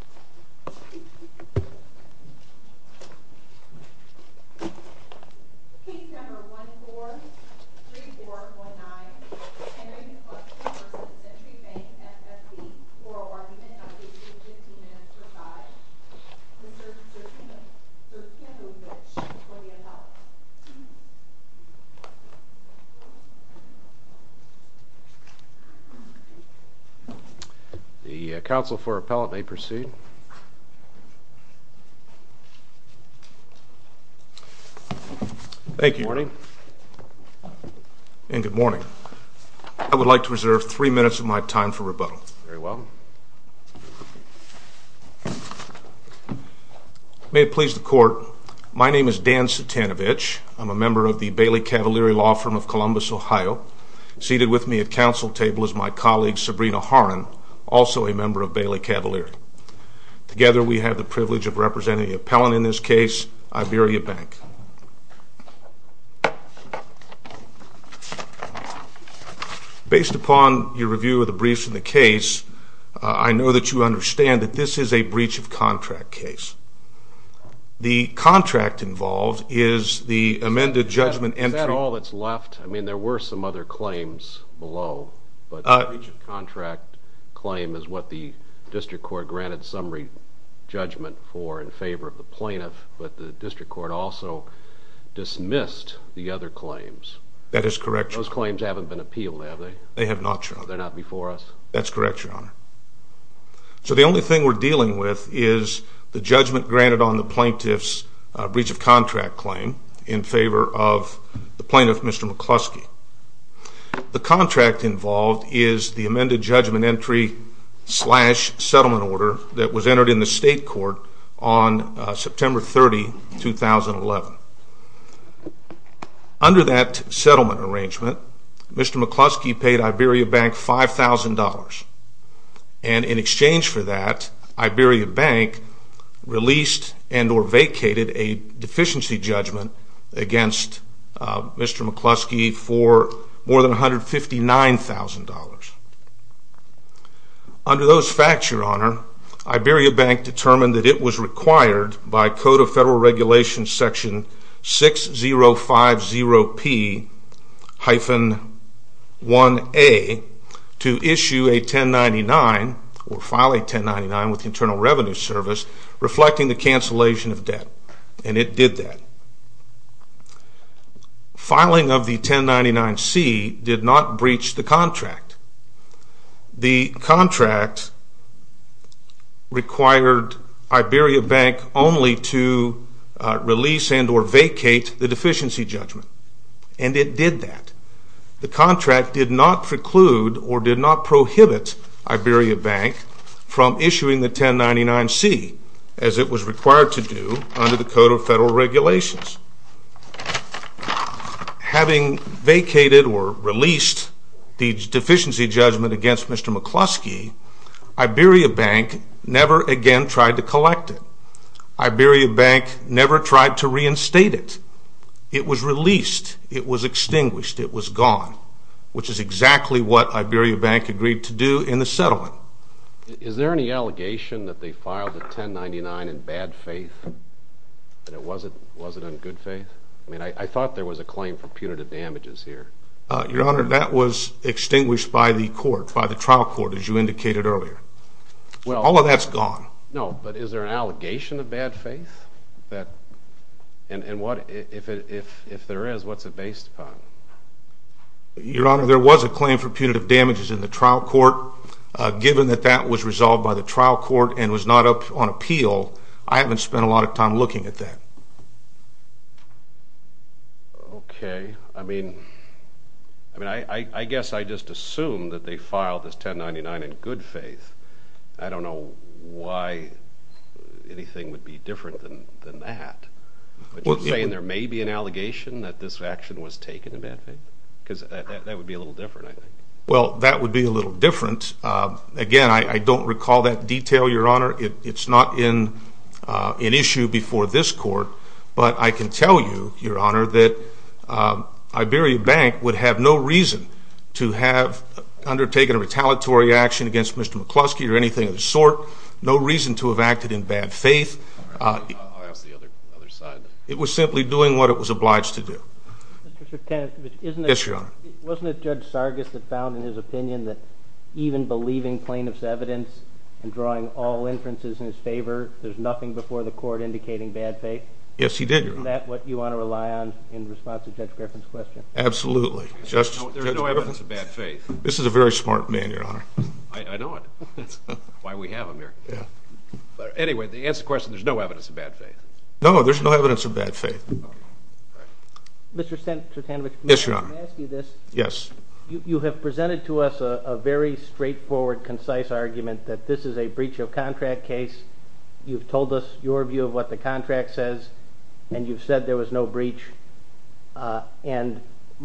for argument on page 15, Minister Fudge. Mr. Chairman, Sir Kevin Fitch for the appellate. The counsel for appellate may proceed. Thank you. Good morning. And good morning. I would like to reserve three minutes of my time for rebuttal. Very well. May it please the court, my name is Dan Sutanovich. I'm a member of the Bailey Cavalier Law Firm of Columbus, Ohio. Seated with me at counsel table is my colleague, Sabrina Horan, also a member of Bailey Cavalier. Together, we have the privilege of representing the appellant in this case, Iberia Bank. Based upon your review of the briefs in the case, I know that you understand that this is a breach of contract case. The contract involved is the amended judgment entry... That is correct, your honor. Those claims haven't been appealed, have they? They have not, your honor. They're not before us? That's correct, your honor. So the only thing we're dealing with is the judgment granted on the plaintiff's breach of contract claim in favor of the plaintiff, Mr. McCluskey. The contract involved is the amended judgment entry slash settlement order that was entered in the state court on September 30, 2011. Under that settlement arrangement, Mr. McCluskey paid Iberia Bank $5,000. And in exchange for that, Iberia Bank released and or vacated a deficiency judgment against Mr. McCluskey for more than $159,000. Under those facts, your honor, Iberia Bank determined that it was required by Code of Federal Regulations Section 6050P-1A to issue a 1099 or file a 1099 with Internal Revenue Service reflecting the cancellation of debt, and it did that. Filing of the 1099-C did not breach the contract. The contract required Iberia Bank only to release and or vacate the deficiency judgment, and it did that. The contract did not preclude or did not prohibit Iberia Bank from issuing the 1099-C, as it was required to do under the Code of Federal Regulations. Having vacated or released the deficiency judgment against Mr. McCluskey, Iberia Bank never again tried to collect it. Iberia Bank never tried to reinstate it. It was released. It was extinguished. It was gone, which is exactly what Iberia Bank agreed to do in the settlement. Is there any allegation that they filed a 1099 in bad faith and it wasn't in good faith? I mean, I thought there was a claim for punitive damages here. Your honor, that was extinguished by the court, by the trial court, as you indicated earlier. All of that's gone. No, but is there an allegation of bad faith? And if there is, what's it based upon? Your honor, there was a claim for punitive damages in the trial court. Given that that was resolved by the trial court and was not up on appeal, I haven't spent a lot of time looking at that. Okay. I mean, I guess I just assume that they filed this 1099 in good faith. I don't know why anything would be different than that. But you're saying there may be an allegation that this action was taken in bad faith? Because that would be a little different, I think. Well, that would be a little different. Again, I don't recall that detail, your honor. It's not an issue before this court. But I can tell you, your honor, that Iberia Bank would have no reason to have undertaken a retaliatory action against Mr. McCluskey or anything of the sort. No reason to have acted in bad faith. It was simply doing what it was obliged to do. Wasn't it Judge Sargis that found in his opinion that even believing plaintiff's evidence and drawing all inferences in his favor, there's nothing before the court indicating bad faith? Yes, he did, your honor. Isn't that what you want to rely on in response to Judge Griffin's question? Absolutely. There's no evidence of bad faith. This is a very smart man, your honor. I know it. That's why we have him here. But anyway, the answer to the question, there's no evidence of bad faith. No, there's no evidence of bad faith. Mr. Tanovich, may I ask you this? Yes. You have presented to us a very straightforward, concise argument that this is a breach of contract case. You've told us your view of what the contract says, and you've said there was no breach. And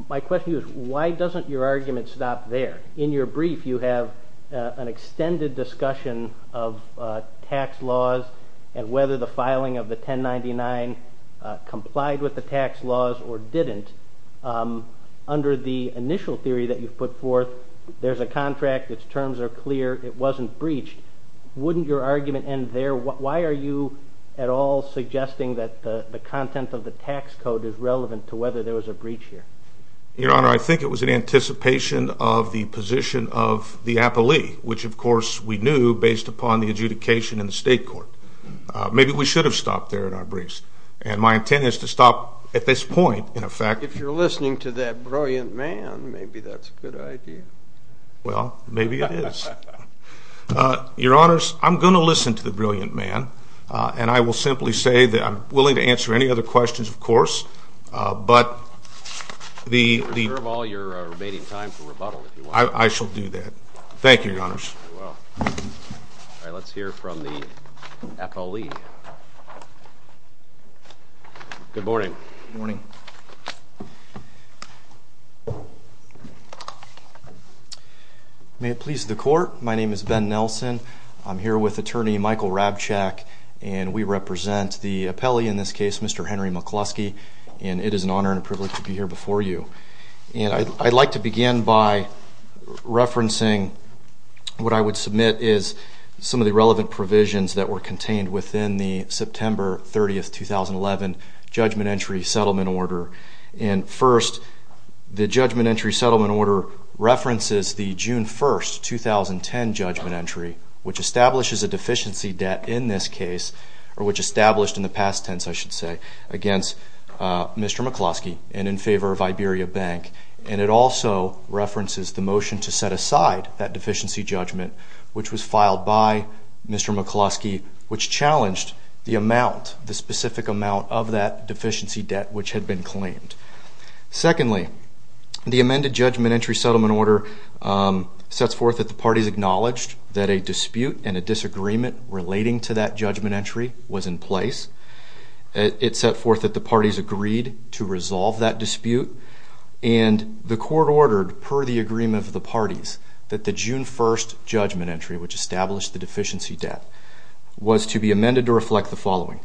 my question to you is, why doesn't your argument stop there? In your brief, you have an extended discussion of tax laws and whether the filing of the 1099 complied with the tax laws or didn't. Under the initial theory that you've put forth, there's a contract, its terms are clear, it wasn't breached. Wouldn't your argument end there? Why are you at all suggesting that the content of the tax code is relevant to whether there was a breach here? Your honor, I think it was in anticipation of the position of the appellee, which, of course, we knew based upon the adjudication in the state court. Maybe we should have stopped there in our briefs. And my intent is to stop at this point, in effect. If you're listening to that brilliant man, maybe that's a good idea. Well, maybe it is. Your honors, I'm going to listen to the brilliant man, and I will simply say that I'm willing to answer any other questions, of course. But the... We'll reserve all your remaining time for rebuttal, if you want. I shall do that. Thank you, your honors. You're welcome. All right, let's hear from the appellee. Good morning. Good morning. May it please the court, my name is Ben Nelson. I'm here with Attorney Michael Rabchack, and we represent the appellee in this case, Mr. Henry McCluskey. And it is an honor and a privilege to be here before you. And I'd like to begin by referencing what I would submit is some of the relevant provisions that were contained within the September 30, 2011, judgment entry settlement order. And first, the judgment entry settlement order references the June 1, 2010 judgment entry, which establishes a deficiency debt in this case, or which established in the past tense, I should say, against Mr. McCluskey and in favor of Iberia Bank. And it also references the motion to set aside that deficiency judgment, which was filed by Mr. McCluskey, which challenged the amount, the specific amount of that deficiency debt which had been claimed. Secondly, the amended judgment entry settlement order sets forth that the parties acknowledged that a dispute and a disagreement relating to that judgment entry was in place. It set forth that the parties agreed to resolve that dispute. And the court ordered per the agreement of the parties that the June 1 judgment entry, which established the deficiency debt, was to be amended to reflect the following.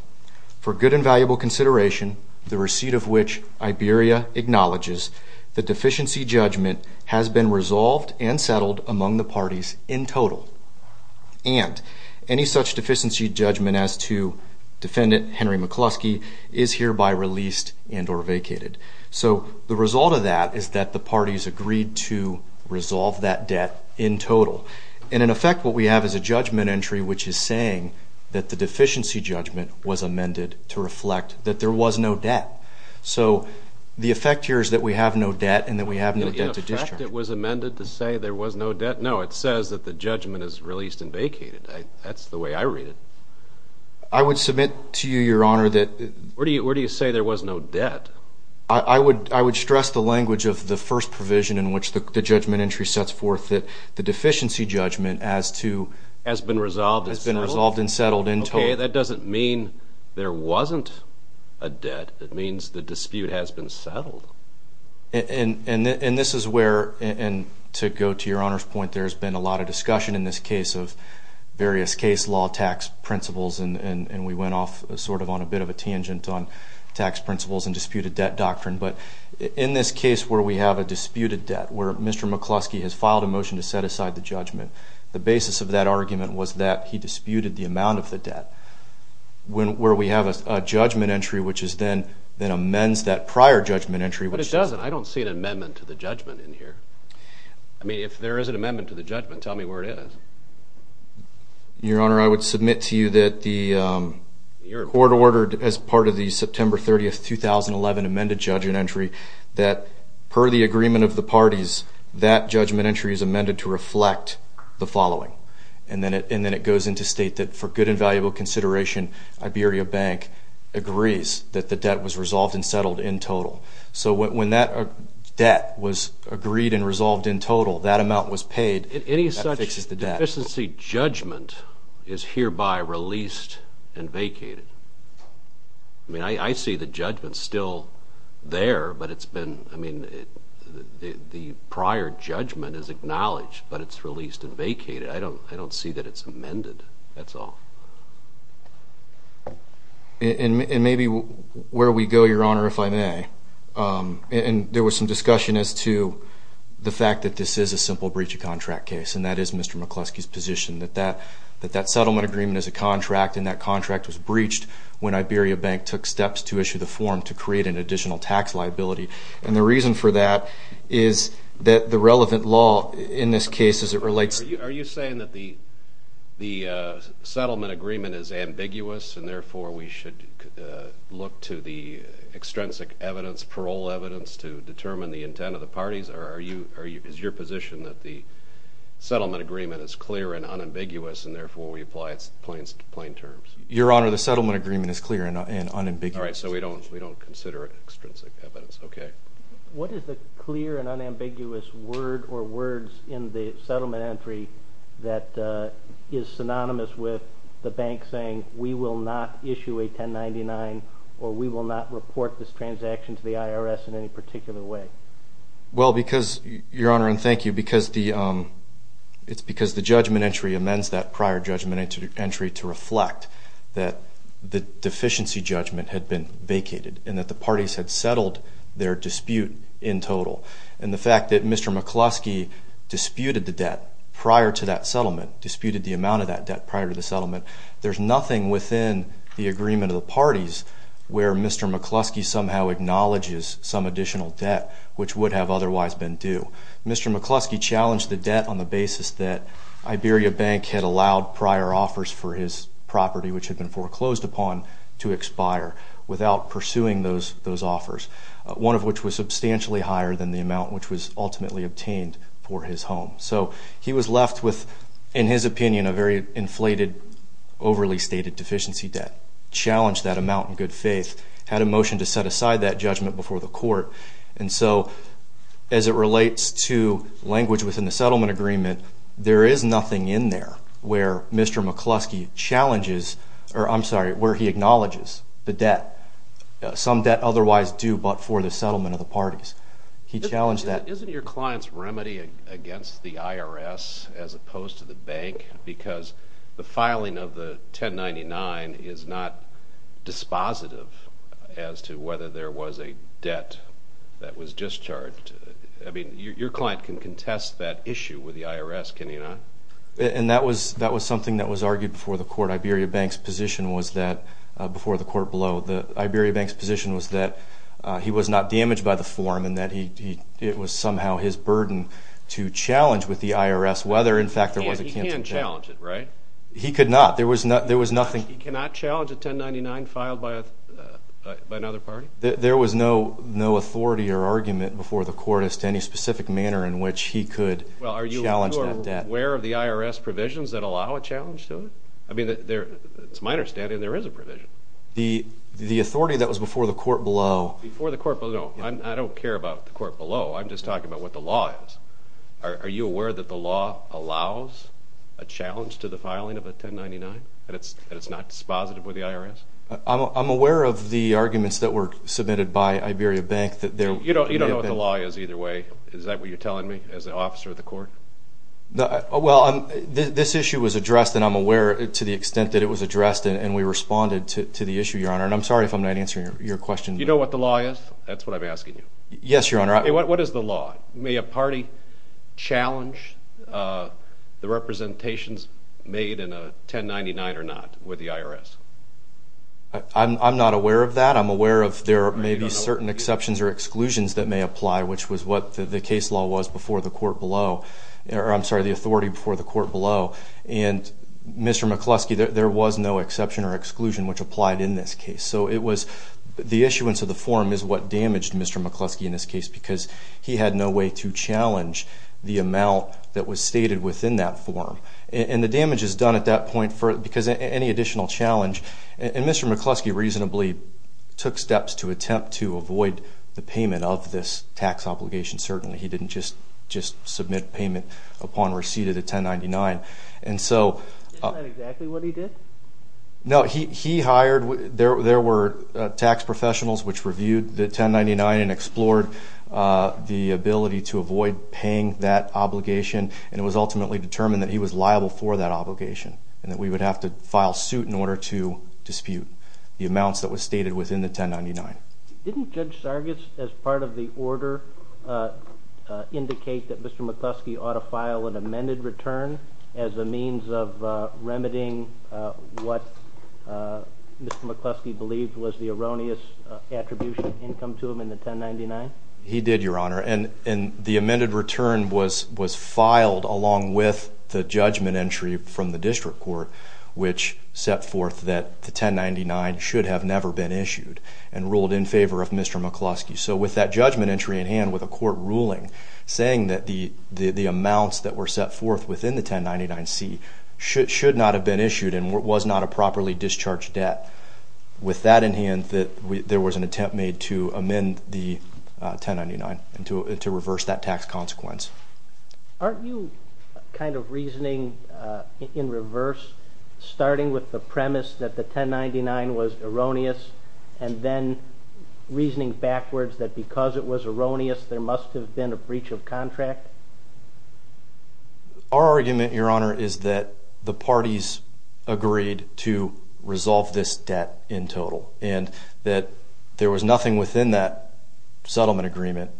For good and valuable consideration, the receipt of which Iberia acknowledges, the deficiency judgment has been resolved and settled among the parties in total. And any such deficiency judgment as to Defendant Henry McCluskey is hereby released and or vacated. So the result of that is that the parties agreed to resolve that debt in total. And in effect, what we have is a judgment entry which is saying that the deficiency judgment was amended to reflect that there was no debt. So the effect here is that we have no debt and that we have no debt to discharge. In effect, it was amended to say there was no debt? No, it says that the judgment is released and vacated. That's the way I read it. I would submit to you, Your Honor, that... Where do you say there was no debt? I would stress the language of the first provision in which the judgment entry sets forth that the deficiency judgment as to... Has been resolved and settled? Has been resolved and settled in total. Okay, that doesn't mean there wasn't a debt. It means the dispute has been settled. And this is where, and to go to Your Honor's point, there's been a lot of discussion in this case of various case law tax principles, and we went off sort of on a bit of a tangent on tax principles and disputed debt doctrine. But in this case where we have a disputed debt, where Mr. McCluskey has filed a motion to set aside the judgment, the basis of that argument was that he disputed the amount of the debt. Where we have a judgment entry which is then amends that prior judgment entry. But it doesn't. I don't see an amendment to the judgment in here. I mean, if there is an amendment to the judgment, tell me where it is. Your Honor, I would submit to you that the court ordered as part of the September 30, 2011, amended judgment entry that per the agreement of the parties, that judgment entry is amended to reflect the following. And then it goes into state that for good and valuable consideration, Iberia Bank agrees that the debt was resolved and settled in total. So when that debt was agreed and resolved in total, that amount was paid. That fixes the debt. Any such deficiency judgment is hereby released and vacated. I mean, I see the judgment still there, but it's been, I mean, the prior judgment is acknowledged, but it's released and vacated. I don't see that it's amended. That's all. And maybe where we go, Your Honor, if I may, and there was some discussion as to the fact that this is a simple breach of contract case, and that is Mr. McCluskey's position that that settlement agreement is a contract and that contract was breached when Iberia Bank took steps to issue the form to create an additional tax liability. And the reason for that is that the relevant law in this case as it relates to the settlement agreement is ambiguous, and therefore we should look to the extrinsic evidence, parole evidence to determine the intent of the parties. Or is your position that the settlement agreement is clear and unambiguous, and therefore we apply its points to plain terms? Your Honor, the settlement agreement is clear and unambiguous. All right. So we don't consider it extrinsic evidence. Okay. What is the clear and unambiguous word or words in the settlement entry that is synonymous with the bank saying we will not issue a 1099 or we will not report this transaction to the IRS in any particular way? Well, because, Your Honor, and thank you, because the judgment entry amends that prior judgment entry to reflect that the deficiency judgment had been vacated and that the parties had settled their dispute in total. And the fact that Mr. McCluskey disputed the debt prior to that settlement, disputed the amount of that debt prior to the settlement, there's nothing within the agreement of the parties where Mr. McCluskey somehow acknowledges some additional debt which would have otherwise been due. Mr. McCluskey challenged the debt on the basis that Iberia Bank had allowed prior offers for his property, which had been foreclosed upon, to expire without pursuing those offers, one of which was substantially higher than the amount which was ultimately obtained for his home. So he was left with, in his opinion, a very inflated, overly stated deficiency debt, challenged that amount in good faith, had a motion to set aside that judgment before the court. And so as it relates to language within the settlement agreement, there is nothing in there where Mr. McCluskey challenges, or I'm sorry, where he acknowledges the debt, some debt otherwise due but for the settlement of the parties. He challenged that. Isn't your client's remedy against the IRS as opposed to the bank? Because the filing of the 1099 is not dispositive as to whether there was a debt that was discharged. I mean, your client can contest that issue with the IRS, can he not? And that was something that was argued before the court. Iberia Bank's position was that, before the court blow, Iberia Bank's position was that he was not damaged by the form and that it was somehow his burden to challenge with the IRS whether, in fact, there was a canton debt. He can challenge it, right? He could not. There was nothing. He cannot challenge a 1099 filed by another party? There was no authority or argument before the court as to any specific manner in which he could challenge that debt. Well, are you aware of the IRS provisions that allow a challenge to it? I mean, it's my understanding there is a provision. The authority that was before the court blow. Before the court blow. I don't care about the court blow. I'm just talking about what the law is. Are you aware that the law allows a challenge to the filing of a 1099 and it's not dispositive with the IRS? I'm aware of the arguments that were submitted by Iberia Bank. You don't know what the law is either way. Is that what you're telling me as an officer of the court? Well, this issue was addressed, and I'm aware to the extent that it was addressed, and we responded to the issue, Your Honor. And I'm sorry if I'm not answering your question. You know what the law is? That's what I'm asking you. Yes, Your Honor. What is the law? May a party challenge the representations made in a 1099 or not with the IRS? I'm not aware of that. I'm aware of there may be certain exceptions or exclusions that may apply, which was what the case law was before the court blow. I'm sorry, the authority before the court blow. And Mr. McCluskey, there was no exception or exclusion which applied in this case. So it was the issuance of the form is what damaged Mr. McCluskey in this case because he had no way to challenge the amount that was stated within that form. And the damage is done at that point because any additional challenge. And Mr. McCluskey reasonably took steps to attempt to avoid the payment of this tax obligation. Certainly he didn't just submit payment upon receipt of the 1099. Isn't that exactly what he did? No. He hired, there were tax professionals which reviewed the 1099 and explored the ability to avoid paying that obligation. And it was ultimately determined that he was liable for that obligation and that we would have to file suit in order to dispute the amounts that were stated within the 1099. Didn't Judge Sargis, as part of the order, indicate that Mr. McCluskey ought to file an amended return as a means of remedying what Mr. McCluskey believed was the erroneous attribution income to him in the 1099? He did, Your Honor. And the amended return was filed along with the judgment entry from the district court which set forth that the 1099 should have never been issued and ruled in favor of Mr. McCluskey. So with that judgment entry in hand with a court ruling saying that the amounts that were set forth within the 1099-C should not have been issued and was not a properly discharged debt, with that in hand that there was an attempt made to amend the 1099 and to reverse that tax consequence. Aren't you kind of reasoning in reverse, starting with the premise that the 1099 was erroneous and then reasoning backwards that because it was erroneous there must have been a breach of contract? Our argument, Your Honor, is that the parties agreed to resolve this debt in total and that there was nothing within that settlement agreement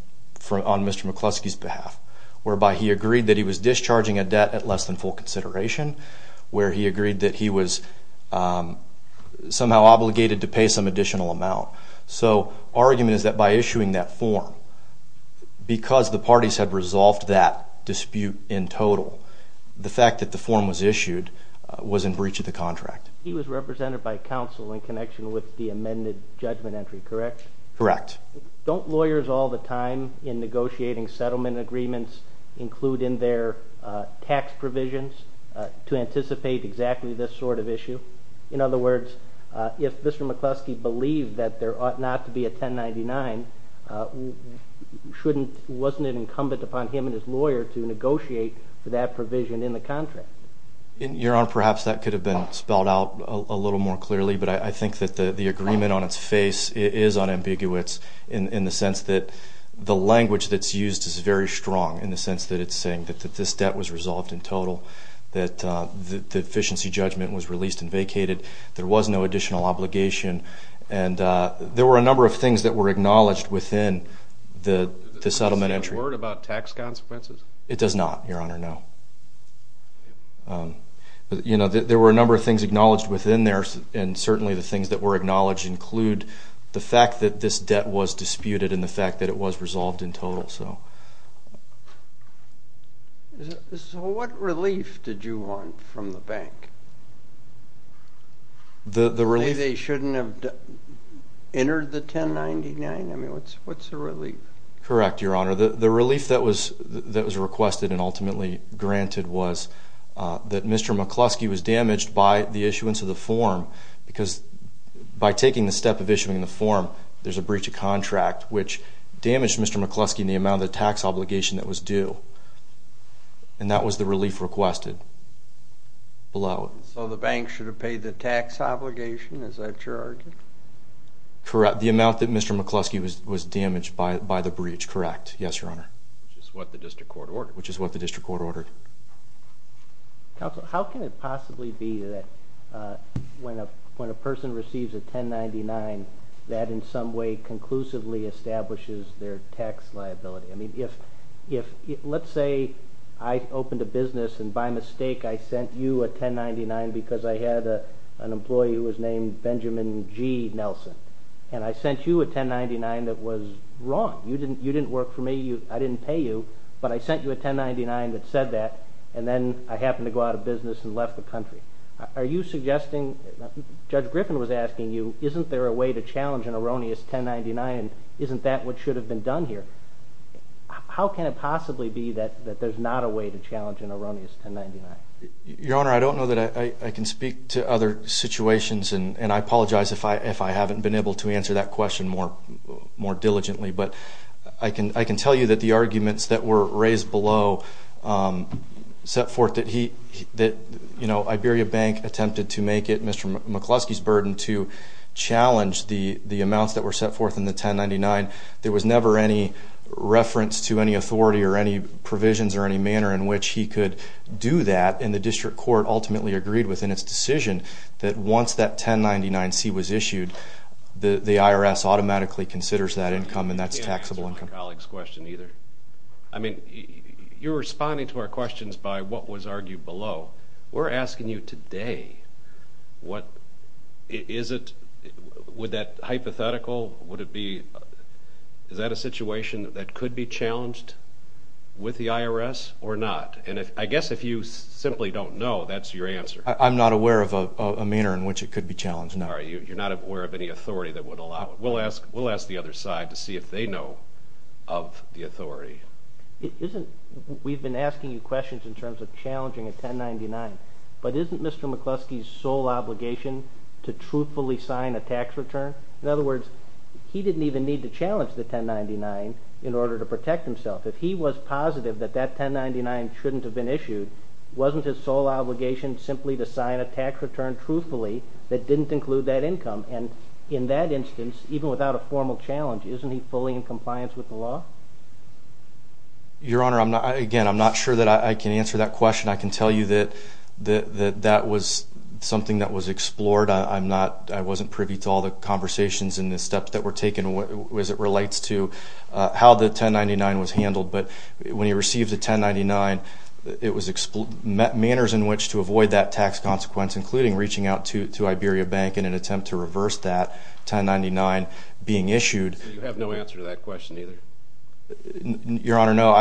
on Mr. McCluskey's behalf whereby he agreed that he was discharging a debt at less than full consideration, where he agreed that he was somehow obligated to pay some additional amount. So our argument is that by issuing that form, because the parties had resolved that dispute in total, the fact that the form was issued was in breach of the contract. He was represented by counsel in connection with the amended judgment entry, correct? Correct. Don't lawyers all the time in negotiating settlement agreements include in their tax provisions to anticipate exactly this sort of issue? In other words, if Mr. McCluskey believed that there ought not to be a 1099, wasn't it incumbent upon him and his lawyer to negotiate for that provision in the contract? Your Honor, perhaps that could have been spelled out a little more clearly, but I think that the agreement on its face is unambiguous in the sense that the language that's used is very strong in the sense that it's saying that this debt was resolved in total, that the efficiency judgment was released and vacated, there was no additional obligation, and there were a number of things that were acknowledged within the settlement entry. Does it say a word about tax consequences? It does not, Your Honor, no. But, you know, there were a number of things acknowledged within there, and certainly the things that were acknowledged include the fact that this debt was disputed and the fact that it was resolved in total. So what relief did you want from the bank? The relief... They shouldn't have entered the 1099? I mean, what's the relief? Correct, Your Honor. The relief that was requested and ultimately granted was that Mr. McCluskey was damaged by the issuance of the form because by taking the step of issuing the form, there's a breach of contract, which damaged Mr. McCluskey in the amount of the tax obligation that was due, and that was the relief requested below it. So the bank should have paid the tax obligation, is that your argument? Correct, the amount that Mr. McCluskey was damaged by the breach, correct. Yes, Your Honor. Which is what the district court ordered. Which is what the district court ordered. Counsel, how can it possibly be that when a person receives a 1099, that in some way conclusively establishes their tax liability? I mean, let's say I opened a business and by mistake I sent you a 1099 because I had an employee who was named Benjamin G. Nelson, and I sent you a 1099 that was wrong. You didn't work for me, I didn't pay you, but I sent you a 1099 that said that, and then I happened to go out of business and left the country. Are you suggesting, Judge Griffin was asking you, isn't there a way to challenge an erroneous 1099 and isn't that what should have been done here? How can it possibly be that there's not a way to challenge an erroneous 1099? Your Honor, I don't know that I can speak to other situations, and I apologize if I haven't been able to answer that question more diligently, but I can tell you that the arguments that were raised below set forth that he, you know, Iberia Bank attempted to make it Mr. McCluskey's burden to challenge the amounts that were set forth in the 1099. There was never any reference to any authority or any provisions or any manner in which he could do that, and the district court ultimately agreed within its decision that once that 1099C was issued, the IRS automatically considers that income and that's taxable income. I can't answer my colleague's question either. I mean, you're responding to our questions by what was argued below. We're asking you today what is it, would that hypothetical, would it be, is that a situation that could be challenged with the IRS or not? And I guess if you simply don't know, that's your answer. I'm not aware of a manner in which it could be challenged, no. You're not aware of any authority that would allow it. We'll ask the other side to see if they know of the authority. Isn't, we've been asking you questions in terms of challenging a 1099, but isn't Mr. McCluskey's sole obligation to truthfully sign a tax return? In other words, he didn't even need to challenge the 1099 in order to protect himself. If he was positive that that 1099 shouldn't have been issued, wasn't his sole obligation simply to sign a tax return truthfully that didn't include that income? And in that instance, even without a formal challenge, isn't he fully in compliance with the law? Your Honor, again, I'm not sure that I can answer that question. I can tell you that that was something that was explored. I'm not, I wasn't privy to all the conversations and the steps that were taken as it relates to how the 1099 was handled. But when he received the 1099, it was manners in which to avoid that tax consequence, including reaching out to Iberia Bank in an attempt to reverse that 1099 being issued. So you have no answer to that question either? Your Honor, no.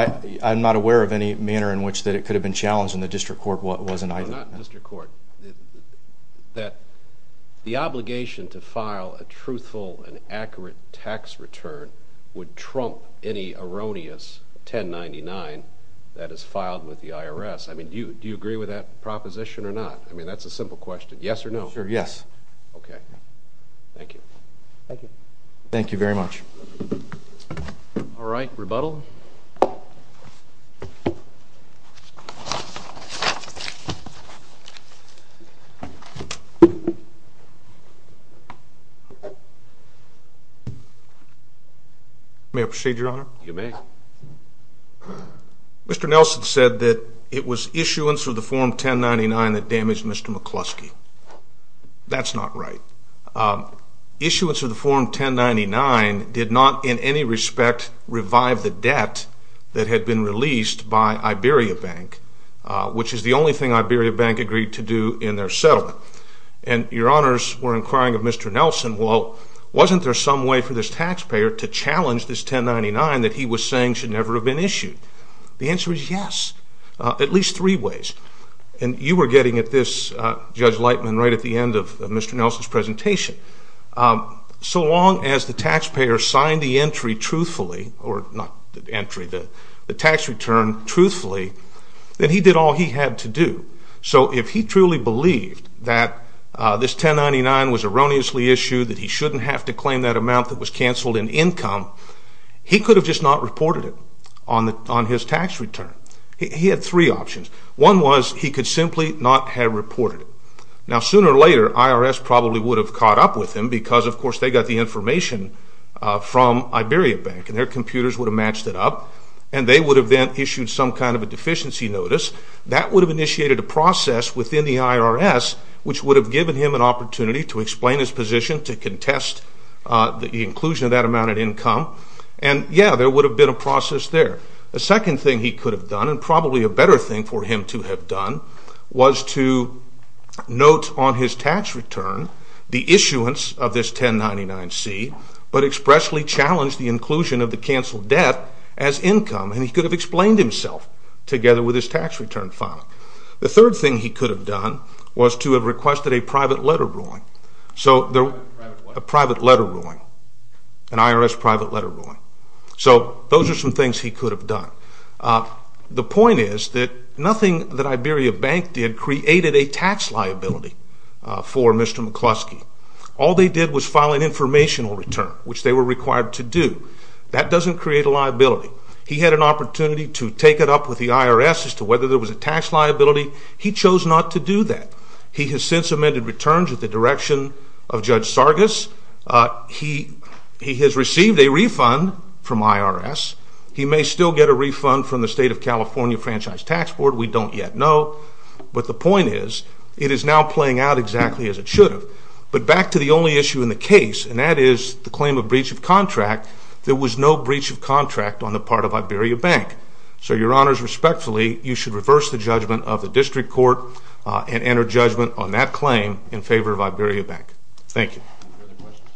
I'm not aware of any manner in which that it could have been challenged, and the district court wasn't either. No, not district court. That the obligation to file a truthful and accurate tax return would trump any erroneous 1099 that is filed with the IRS. I mean, do you agree with that proposition or not? I mean, that's a simple question. Yes or no? Sure, yes. Okay. Thank you. Thank you. Thank you very much. All right, rebuttal. May I proceed, Your Honor? You may. Mr. Nelson said that it was issuance of the Form 1099 that damaged Mr. McCluskey. That's not right. Issuance of the Form 1099 did not in any respect revive the debt that had been released by Iberia Bank, which is the only thing Iberia Bank agreed to do in their settlement. And Your Honors were inquiring of Mr. Nelson, well, wasn't there some way for this taxpayer to challenge this 1099 that he was saying should never have been issued? The answer is yes, at least three ways. And you were getting at this, Judge Lightman, right at the end of Mr. Nelson's presentation. So long as the taxpayer signed the entry truthfully, or not the entry, the tax return truthfully, then he did all he had to do. So if he truly believed that this 1099 was erroneously issued, that he shouldn't have to claim that amount that was canceled in income, he could have just not reported it on his tax return. He had three options. One was he could simply not have reported it. Now, sooner or later, IRS probably would have caught up with him because, of course, they got the information from Iberia Bank, and their computers would have matched it up, and they would have then issued some kind of a deficiency notice. That would have initiated a process within the IRS, which would have given him an opportunity to explain his position, to contest the inclusion of that amount in income. And, yeah, there would have been a process there. The second thing he could have done, and probably a better thing for him to have done, was to note on his tax return the issuance of this 1099-C, but expressly challenge the inclusion of the canceled debt as income, and he could have explained himself together with his tax return file. The third thing he could have done was to have requested a private letter ruling. A private letter ruling. An IRS private letter ruling. So those are some things he could have done. The point is that nothing that Iberia Bank did created a tax liability for Mr. McCluskey. All they did was file an informational return, which they were required to do. That doesn't create a liability. He had an opportunity to take it up with the IRS as to whether there was a tax liability. He chose not to do that. He has since amended returns with the direction of Judge Sargas. He has received a refund from IRS. He may still get a refund from the State of California Franchise Tax Board. We don't yet know. But the point is it is now playing out exactly as it should have. But back to the only issue in the case, and that is the claim of breach of contract, there was no breach of contract on the part of Iberia Bank. So, Your Honors, respectfully, you should reverse the judgment of the district court and enter judgment on that claim in favor of Iberia Bank. Thank you. Any other questions?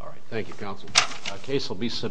All right. Thank you, Counsel.